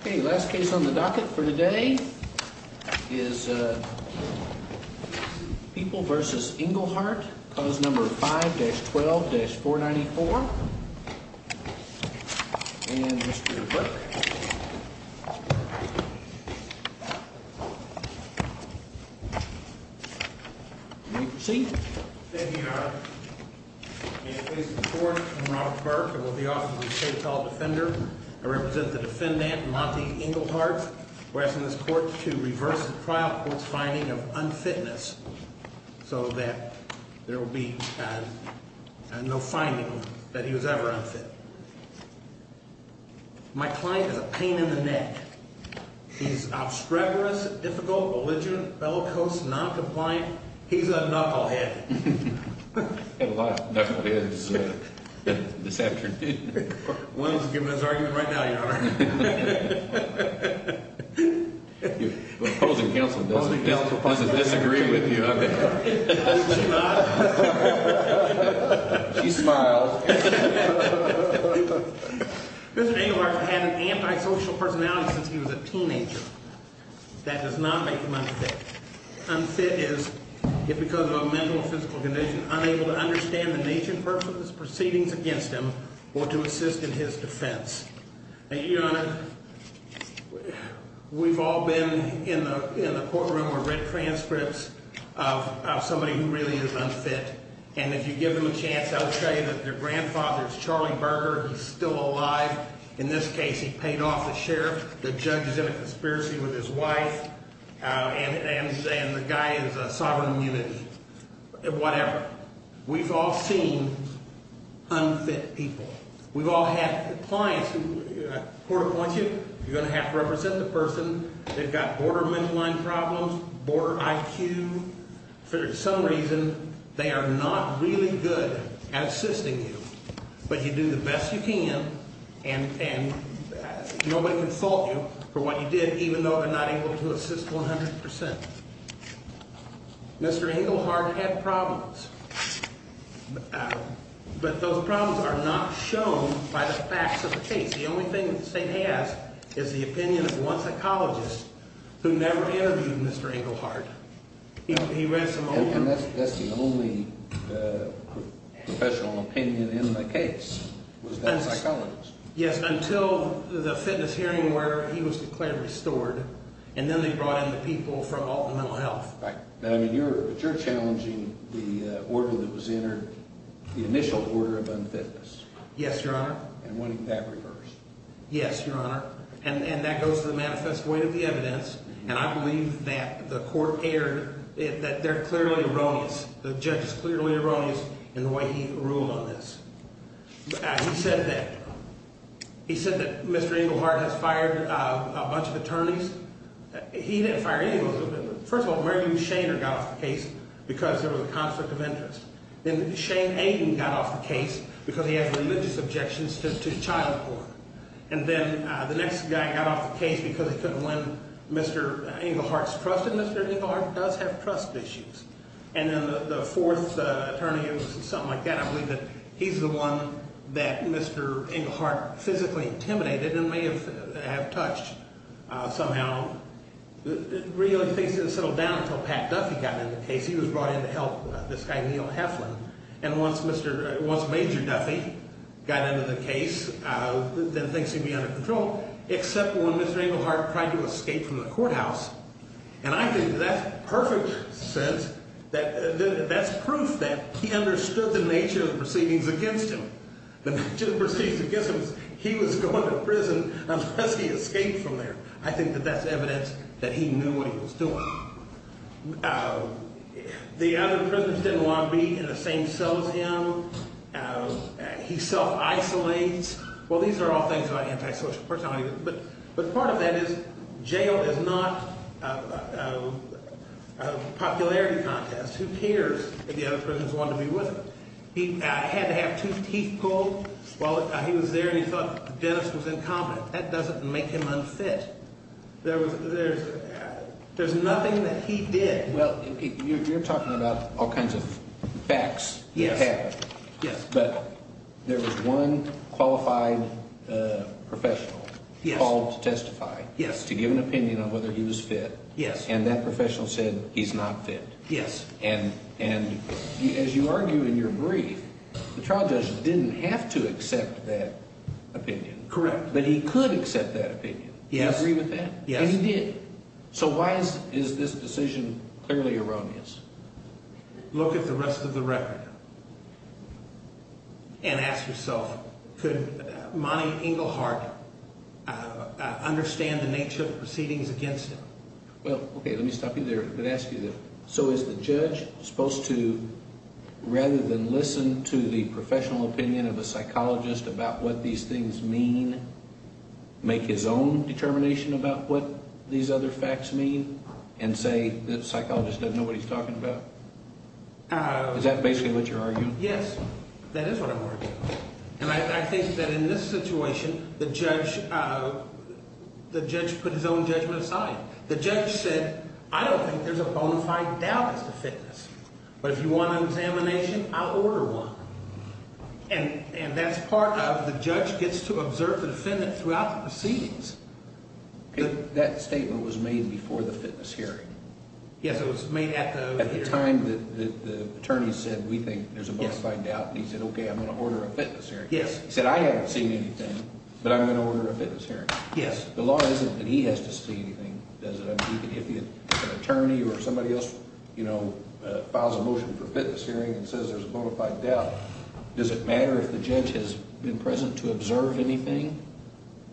Okay, last case on the docket for today is People v. Englehart, cause number 5-12-494 And Mr. Burke Thank you, Your Honor In the name of the court, I'm Robert Burke and will be offering my case to the defendant I represent the defendant, Monty Englehart We're asking this court to reverse the trial court's finding of unfitness So that there will be no finding that he was ever unfit My client has a pain in the neck He's obstreperous, difficult, belligerent, bellicose, noncompliant He's a knucklehead I've had a lot of knuckleheads this afternoon One of them is giving his argument right now, Your Honor The opposing counsel doesn't disagree with you, I'm afraid She smiles Mr. Englehart has had an antisocial personality since he was a teenager That does not make him unfit Unfit is, if because of a mental or physical condition, unable to understand the nature and purpose of his proceedings against him Or to assist in his defense Now, Your Honor, we've all been in the courtroom or read transcripts of somebody who really is unfit And if you give them a chance, I would tell you that their grandfather is Charlie Burger He's still alive In this case, he paid off the sheriff The judge is in a conspiracy with his wife And the guy is a sovereign immunity Whatever We've all seen unfit people We've all had clients who, court appoints you, you're going to have to represent the person They've got border mental problems, border IQ For some reason, they are not really good at assisting you But you do the best you can And nobody can fault you for what you did, even though they're not able to assist 100% Mr. Englehart had problems But those problems are not shown by the facts of the case The only thing the state has is the opinion of one psychologist who never interviewed Mr. Englehart He read some old... And that's the only professional opinion in the case Was that a psychologist? Yes, until the fitness hearing where he was declared restored And then they brought in the people from Alton Mental Health But you're challenging the order that was entered, the initial order of unfitness Yes, Your Honor And what that refers Yes, Your Honor And that goes to the manifest way of the evidence And I believe that the court erred That they're clearly erroneous The judge is clearly erroneous in the way he ruled on this He said that He said that Mr. Englehart has fired a bunch of attorneys He didn't fire any of them First of all, Mary Lou Shainer got off the case because there was a conflict of interest Then Shane Aden got off the case because he had religious objections to child support And then the next guy got off the case because he couldn't win Mr. Englehart's trust in Mr. Englehart does have trust issues And then the fourth attorney was something like that I believe that he's the one that Mr. Englehart physically intimidated and may have touched somehow Really things didn't settle down until Pat Duffy got into the case He was brought in to help this guy Neil Heflin And once Major Duffy got into the case Then things seemed to be under control Except when Mr. Englehart tried to escape from the courthouse And I think that's perfect sense That's proof that he understood the nature of the proceedings against him The nature of the proceedings against him was he was going to prison unless he escaped from there I think that that's evidence that he knew what he was doing The other prisoners didn't want to be in the same cell as him He self-isolates Well, these are all things about antisocial personalities But part of that is jail is not a popularity contest Who cares if the other prisoners wanted to be with him? He had to have two teeth pulled while he was there And he thought the dentist was incompetent That doesn't make him unfit There's nothing that he did Well, you're talking about all kinds of facts that happened But there was one qualified professional Called to testify to give an opinion on whether he was fit And that professional said he's not fit And as you argue in your brief The trial judge didn't have to accept that opinion Correct But he could accept that opinion Do you agree with that? Yes And he did So why is this decision clearly erroneous? Look at the rest of the record And ask yourself Could Monty Englehart understand the nature of the proceedings against him? Well, okay, let me stop you there So is the judge supposed to Rather than listen to the professional opinion of a psychologist About what these things mean Make his own determination about what these other facts mean And say the psychologist doesn't know what he's talking about? Is that basically what you're arguing? Yes, that is what I'm arguing And I think that in this situation The judge put his own judgment aside The judge said I don't think there's a bonafide doubt as to fitness But if you want an examination, I'll order one And that's part of The judge gets to observe the defendant throughout the proceedings That statement was made before the fitness hearing Yes, it was made at the hearing At the time that the attorney said We think there's a bonafide doubt And he said, okay, I'm going to order a fitness hearing Yes He said, I haven't seen anything But I'm going to order a fitness hearing Yes The law isn't that he has to see anything If an attorney or somebody else Files a motion for a fitness hearing And says there's a bonafide doubt Does it matter if the judge has been present to observe anything?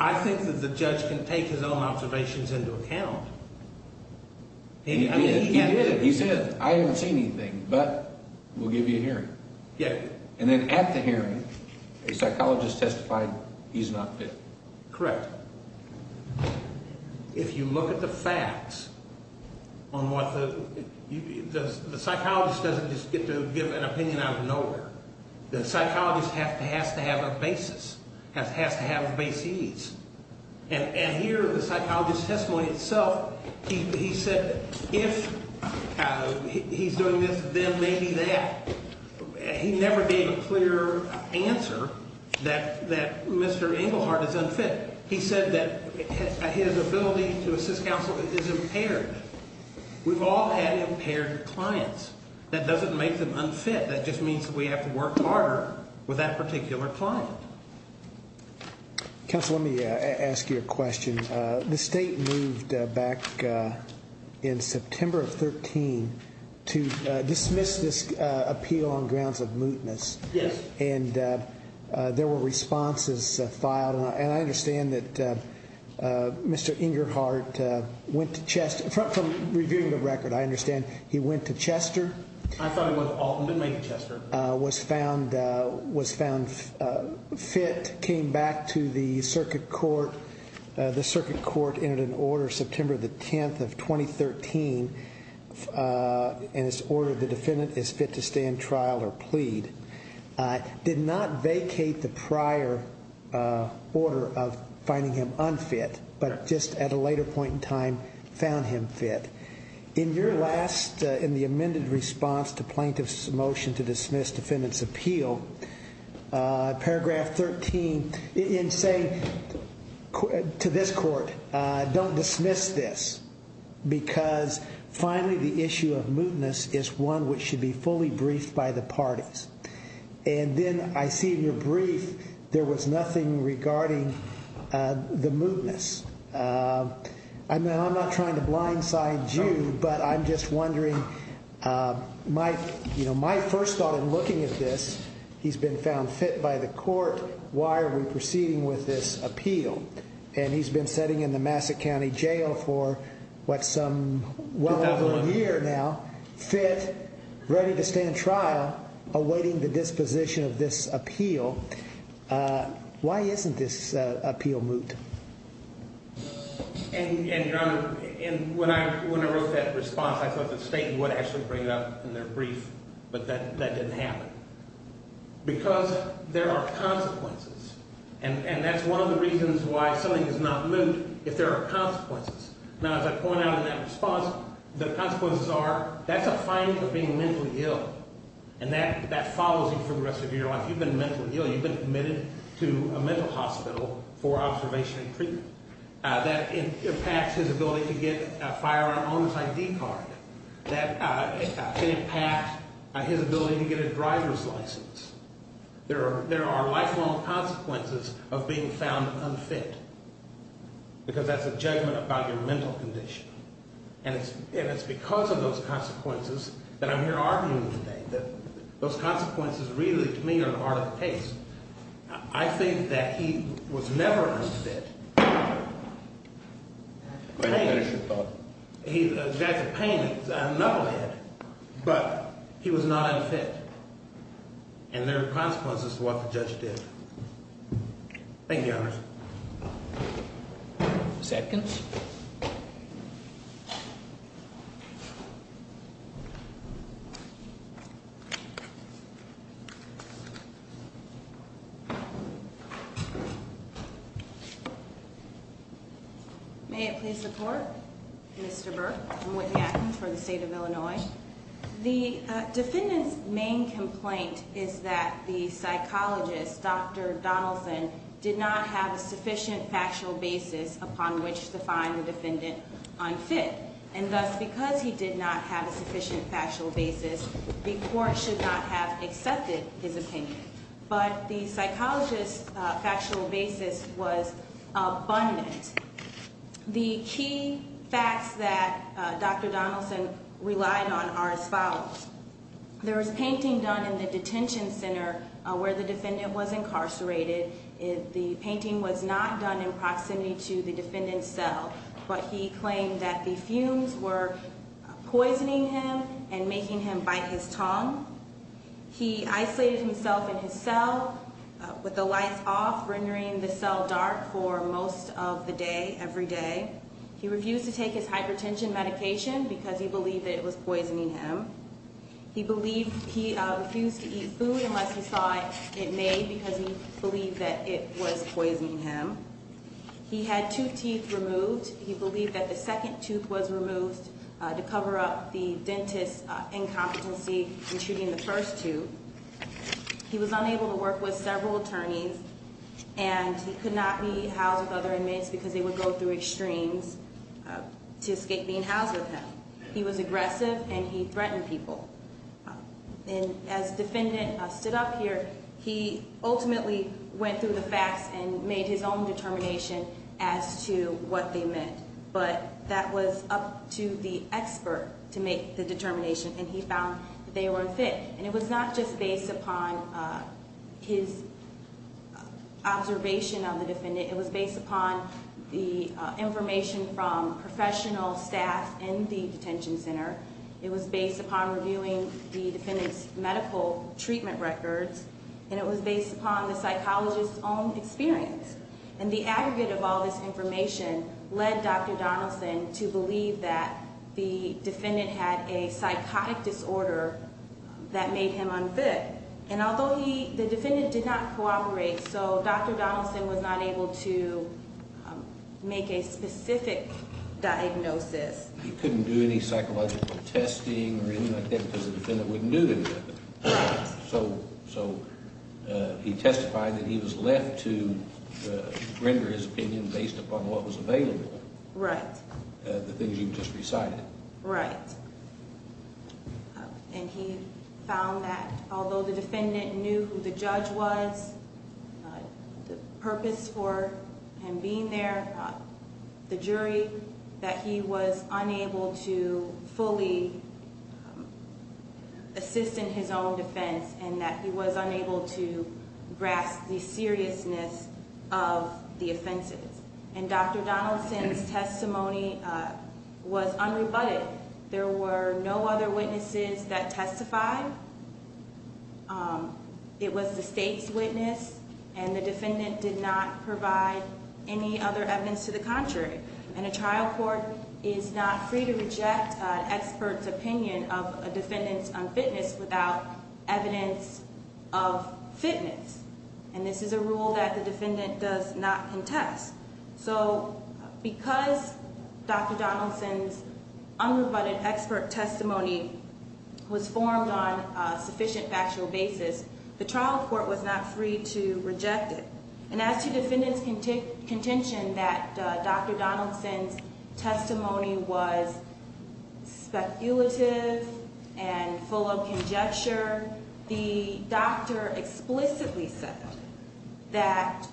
I think that the judge can take his own observations into account He did, he did He said, I haven't seen anything But we'll give you a hearing Yes And then at the hearing A psychologist testified he's not fit Correct If you look at the facts On what the The psychologist doesn't just get to give an opinion out of nowhere The psychologist has to have a basis Has to have a basis And here the psychologist's testimony itself He said, if he's doing this Then maybe that He never gave a clear answer That Mr. Engelhardt is unfit He said that his ability to assist counsel is impaired We've all had impaired clients That doesn't make them unfit That just means that we have to work harder With that particular client Counsel, let me ask you a question The state moved back In September of 13 To dismiss this appeal on grounds of mootness Yes And there were responses filed And I understand that Mr. Engelhardt Went to Chester, from reviewing the record I understand he went to Chester I thought he went to Alton, but maybe Chester Was found fit Came back to the circuit court The circuit court entered an order September the 10th of 2013 In its order, the defendant is fit to stand trial or plead Did not vacate the prior order Of finding him unfit But just at a later point in time Found him fit In your last, in the amended response To plaintiff's motion to dismiss defendant's appeal Paragraph 13 In saying to this court Don't dismiss this Because finally the issue of mootness Is one which should be fully briefed by the parties And then I see in your brief There was nothing regarding the mootness I'm not trying to blindside you But I'm just wondering My first thought in looking at this He's been found fit by the court Why are we proceeding with this appeal? And he's been sitting in the Massachusetts County Jail For what's some well over a year now Fit, ready to stand trial Awaiting the disposition of this appeal Why isn't this appeal moot? And your honor When I wrote that response I thought the state would actually bring it up In their brief But that didn't happen Because there are consequences And that's one of the reasons why Something is not moot If there are consequences Now as I point out in that response The consequences are That's a finding for being mentally ill And that follows you for the rest of your life You've been mentally ill You've been admitted to a mental hospital For observation and treatment That impacts his ability to get A firearm on his ID card That can impact his ability to get a driver's license There are lifelong consequences Of being found unfit Because that's a judgment about your mental condition And it's because of those consequences That I'm here arguing today That those consequences really to me Are an art of the case I think that he was never unfit He's got the pain in his knucklehead But he was not unfit And there are consequences to what the judge did Thank you, your honor Second May it please the court Mr. Burke, I'm Whitney Atkins For the state of Illinois The defendant's main complaint Is that the psychologist, Dr. Donaldson Did not have a sufficient factual basis Upon which to find the defendant unfit And thus because he did not have A sufficient factual basis The court should not have accepted his opinion But the psychologist's factual basis Was abundant The key facts that Dr. Donaldson relied on Are as follows There was painting done in the detention center Where the defendant was incarcerated The painting was not done In proximity to the defendant's cell But he claimed that the fumes were Poisoning him and making him bite his tongue He isolated himself in his cell With the lights off Rendering the cell dark for most of the day Every day He refused to take his hypertension medication Because he believed that it was poisoning him He refused to eat food Unless he saw it made Because he believed that it was poisoning him He had two teeth removed He believed that the second tooth was removed To cover up the dentist's incompetency In treating the first two He was unable to work with several attorneys And he could not be housed with other inmates Because they would go through extremes To escape being housed with him He was aggressive and he threatened people And as defendant stood up here He ultimately went through the facts And made his own determination As to what they meant But that was up to the expert To make the determination And he found that they were unfit And it was not just based upon His observation of the defendant It was based upon the information From professional staff in the detention center It was based upon reviewing The defendant's medical treatment records And it was based upon the psychologist's own experience And the aggregate of all this information Led Dr. Donaldson to believe that The defendant had a psychotic disorder That made him unfit And although the defendant did not cooperate So Dr. Donaldson was not able to Make a specific diagnosis He couldn't do any psychological testing Or anything like that Because the defendant wouldn't do anything So he testified that he was left to Render his opinion based upon what was available Right The things you just recited Right And he found that Although the defendant knew who the judge was The purpose for him being there The jury That he was unable to fully Assist in his own defense And that he was unable to Grasp the seriousness of the offenses And Dr. Donaldson's testimony Was unrebutted There were no other witnesses that testified It was the state's witness And the defendant did not provide Any other evidence to the contrary And a trial court is not free to reject An expert's opinion of a defendant's unfitness Without evidence of fitness And this is a rule that the defendant does not contest So because Dr. Donaldson's Unrebutted expert testimony Was formed on a sufficient factual basis The trial court was not free to reject it And as to defendant's contention That Dr. Donaldson's testimony was Speculative And full of conjecture The doctor explicitly said That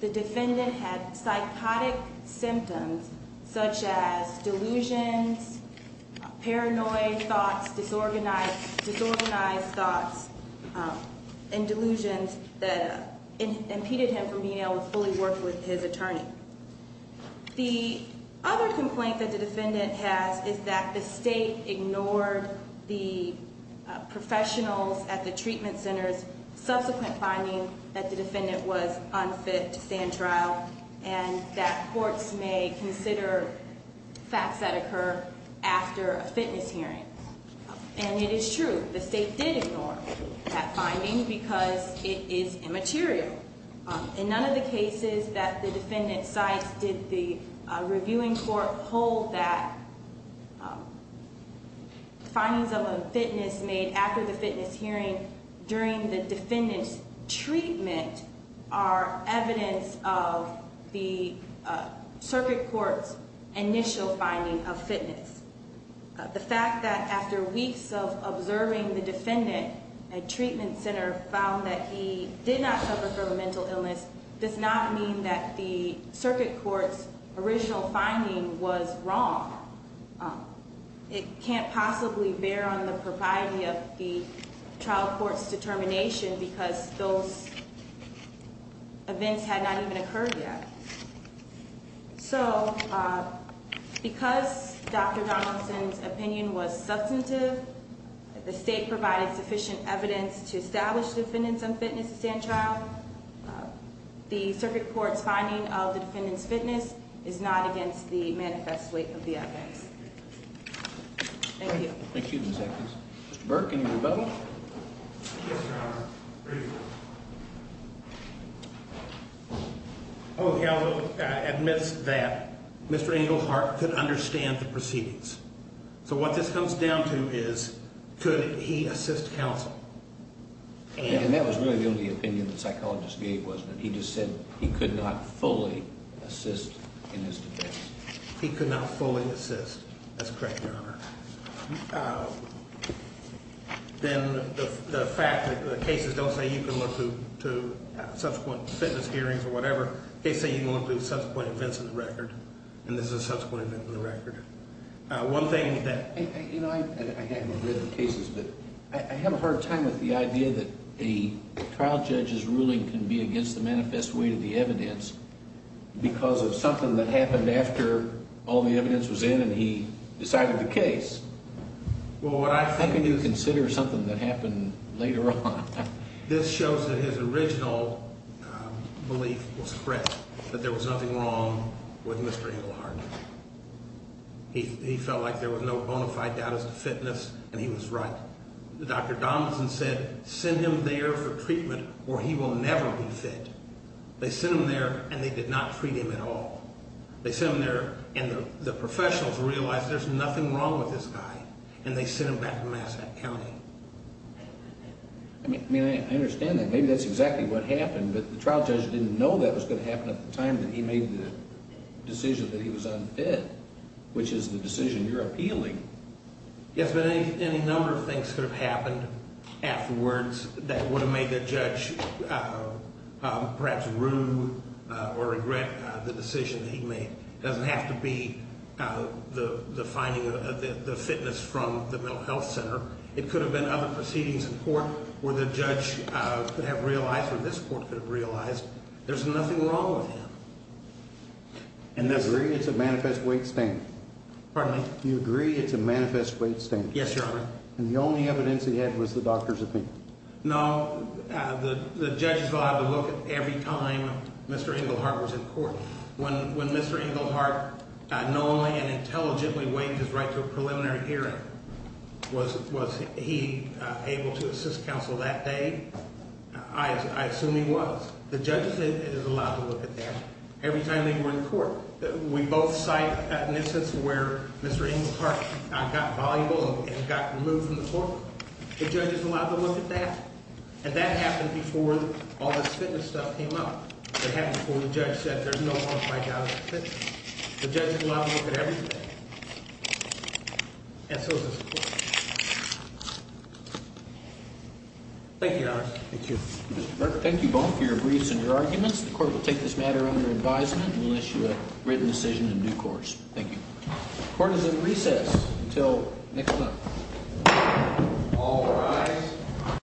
the defendant had psychotic symptoms Such as delusions Paranoid thoughts Disorganized thoughts And delusions that impeded him From being able to fully work with his attorney The other complaint that the defendant has Is that the state ignored The professionals at the treatment centers Subsequent finding that the defendant was unfit To stand trial And that courts may consider facts that occur After a fitness hearing And it is true The state did ignore that finding Because it is immaterial In none of the cases that the defendant cites And in none of the cases that the defendant cites Did the reviewing court hold that Findings of unfitness Made after the fitness hearing During the defendant's treatment Are evidence of the circuit court's Initial finding of fitness The fact that after weeks of observing The defendant at treatment center Found that he did not suffer from a mental illness Does not mean that the circuit court's Original finding was wrong It can't possibly bear on the propriety Of the trial court's determination Because those events Had not even occurred yet So because Dr. Donaldson's opinion Was substantive The state provided sufficient evidence To establish the defendant's unfitness to stand trial The circuit court's finding of the defendant's fitness Is not against the manifest weight of the evidence Thank you Mr. Burke, any rebuttal? Yes, your honor The counsel admits that Mr. Englehart could understand the proceedings So what this comes down to is Could he assist counsel? And that was really the only opinion the psychologist gave Was that he just said he could not fully assist In his defense He could not fully assist, that's correct, your honor Then the fact that the cases Don't say you can look to subsequent They say you can look to subsequent events in the record And this is a subsequent event in the record I hadn't read the cases But I have a hard time with the idea that A trial judge's ruling can be against the manifest weight of the evidence Because of something that happened after All the evidence was in and he decided the case How can you consider something That happened later on? This shows that his original belief was correct That there was nothing wrong with Mr. Englehart He felt like there was no bona fide Doubt as to fitness and he was right Dr. Donaldson said send him there for treatment Or he will never be fit They sent him there and they did not treat him at all They sent him there and the professionals realized There's nothing wrong with this guy And they sent him back to Massack County I mean, I understand that Maybe that's exactly what happened But the trial judge didn't know that was going to happen At the time that he made the decision that he was unfit Which is the decision you're appealing Yes, but any number of things could have happened afterwards That would have made the judge perhaps rude Or regret the decision that he made It doesn't have to be the finding The fitness from the mental health center It could have been other proceedings in court Where the judge could have realized There's nothing wrong with him You agree it's a manifest weight standard? Yes, Your Honor And the only evidence he had was the doctor's opinion? No, the judge is allowed to look at every time Mr. Englehart was in court When Mr. Englehart knowingly and intelligently Waived his right to a preliminary hearing Was he able to assist counsel that day? I assume he was The judge is allowed to look at that every time they were in court We both cite instances where Mr. Englehart Got valuable and got removed from the court The judge is allowed to look at that And that happened before all this fitness stuff came up That happened before the judge said There's no harm in fighting out of fitness The judge is allowed to look at everything And so is this court Thank you, Your Honor Thank you both for your briefs and your arguments The court will take this matter under advisement And will issue a written decision in due course Thank you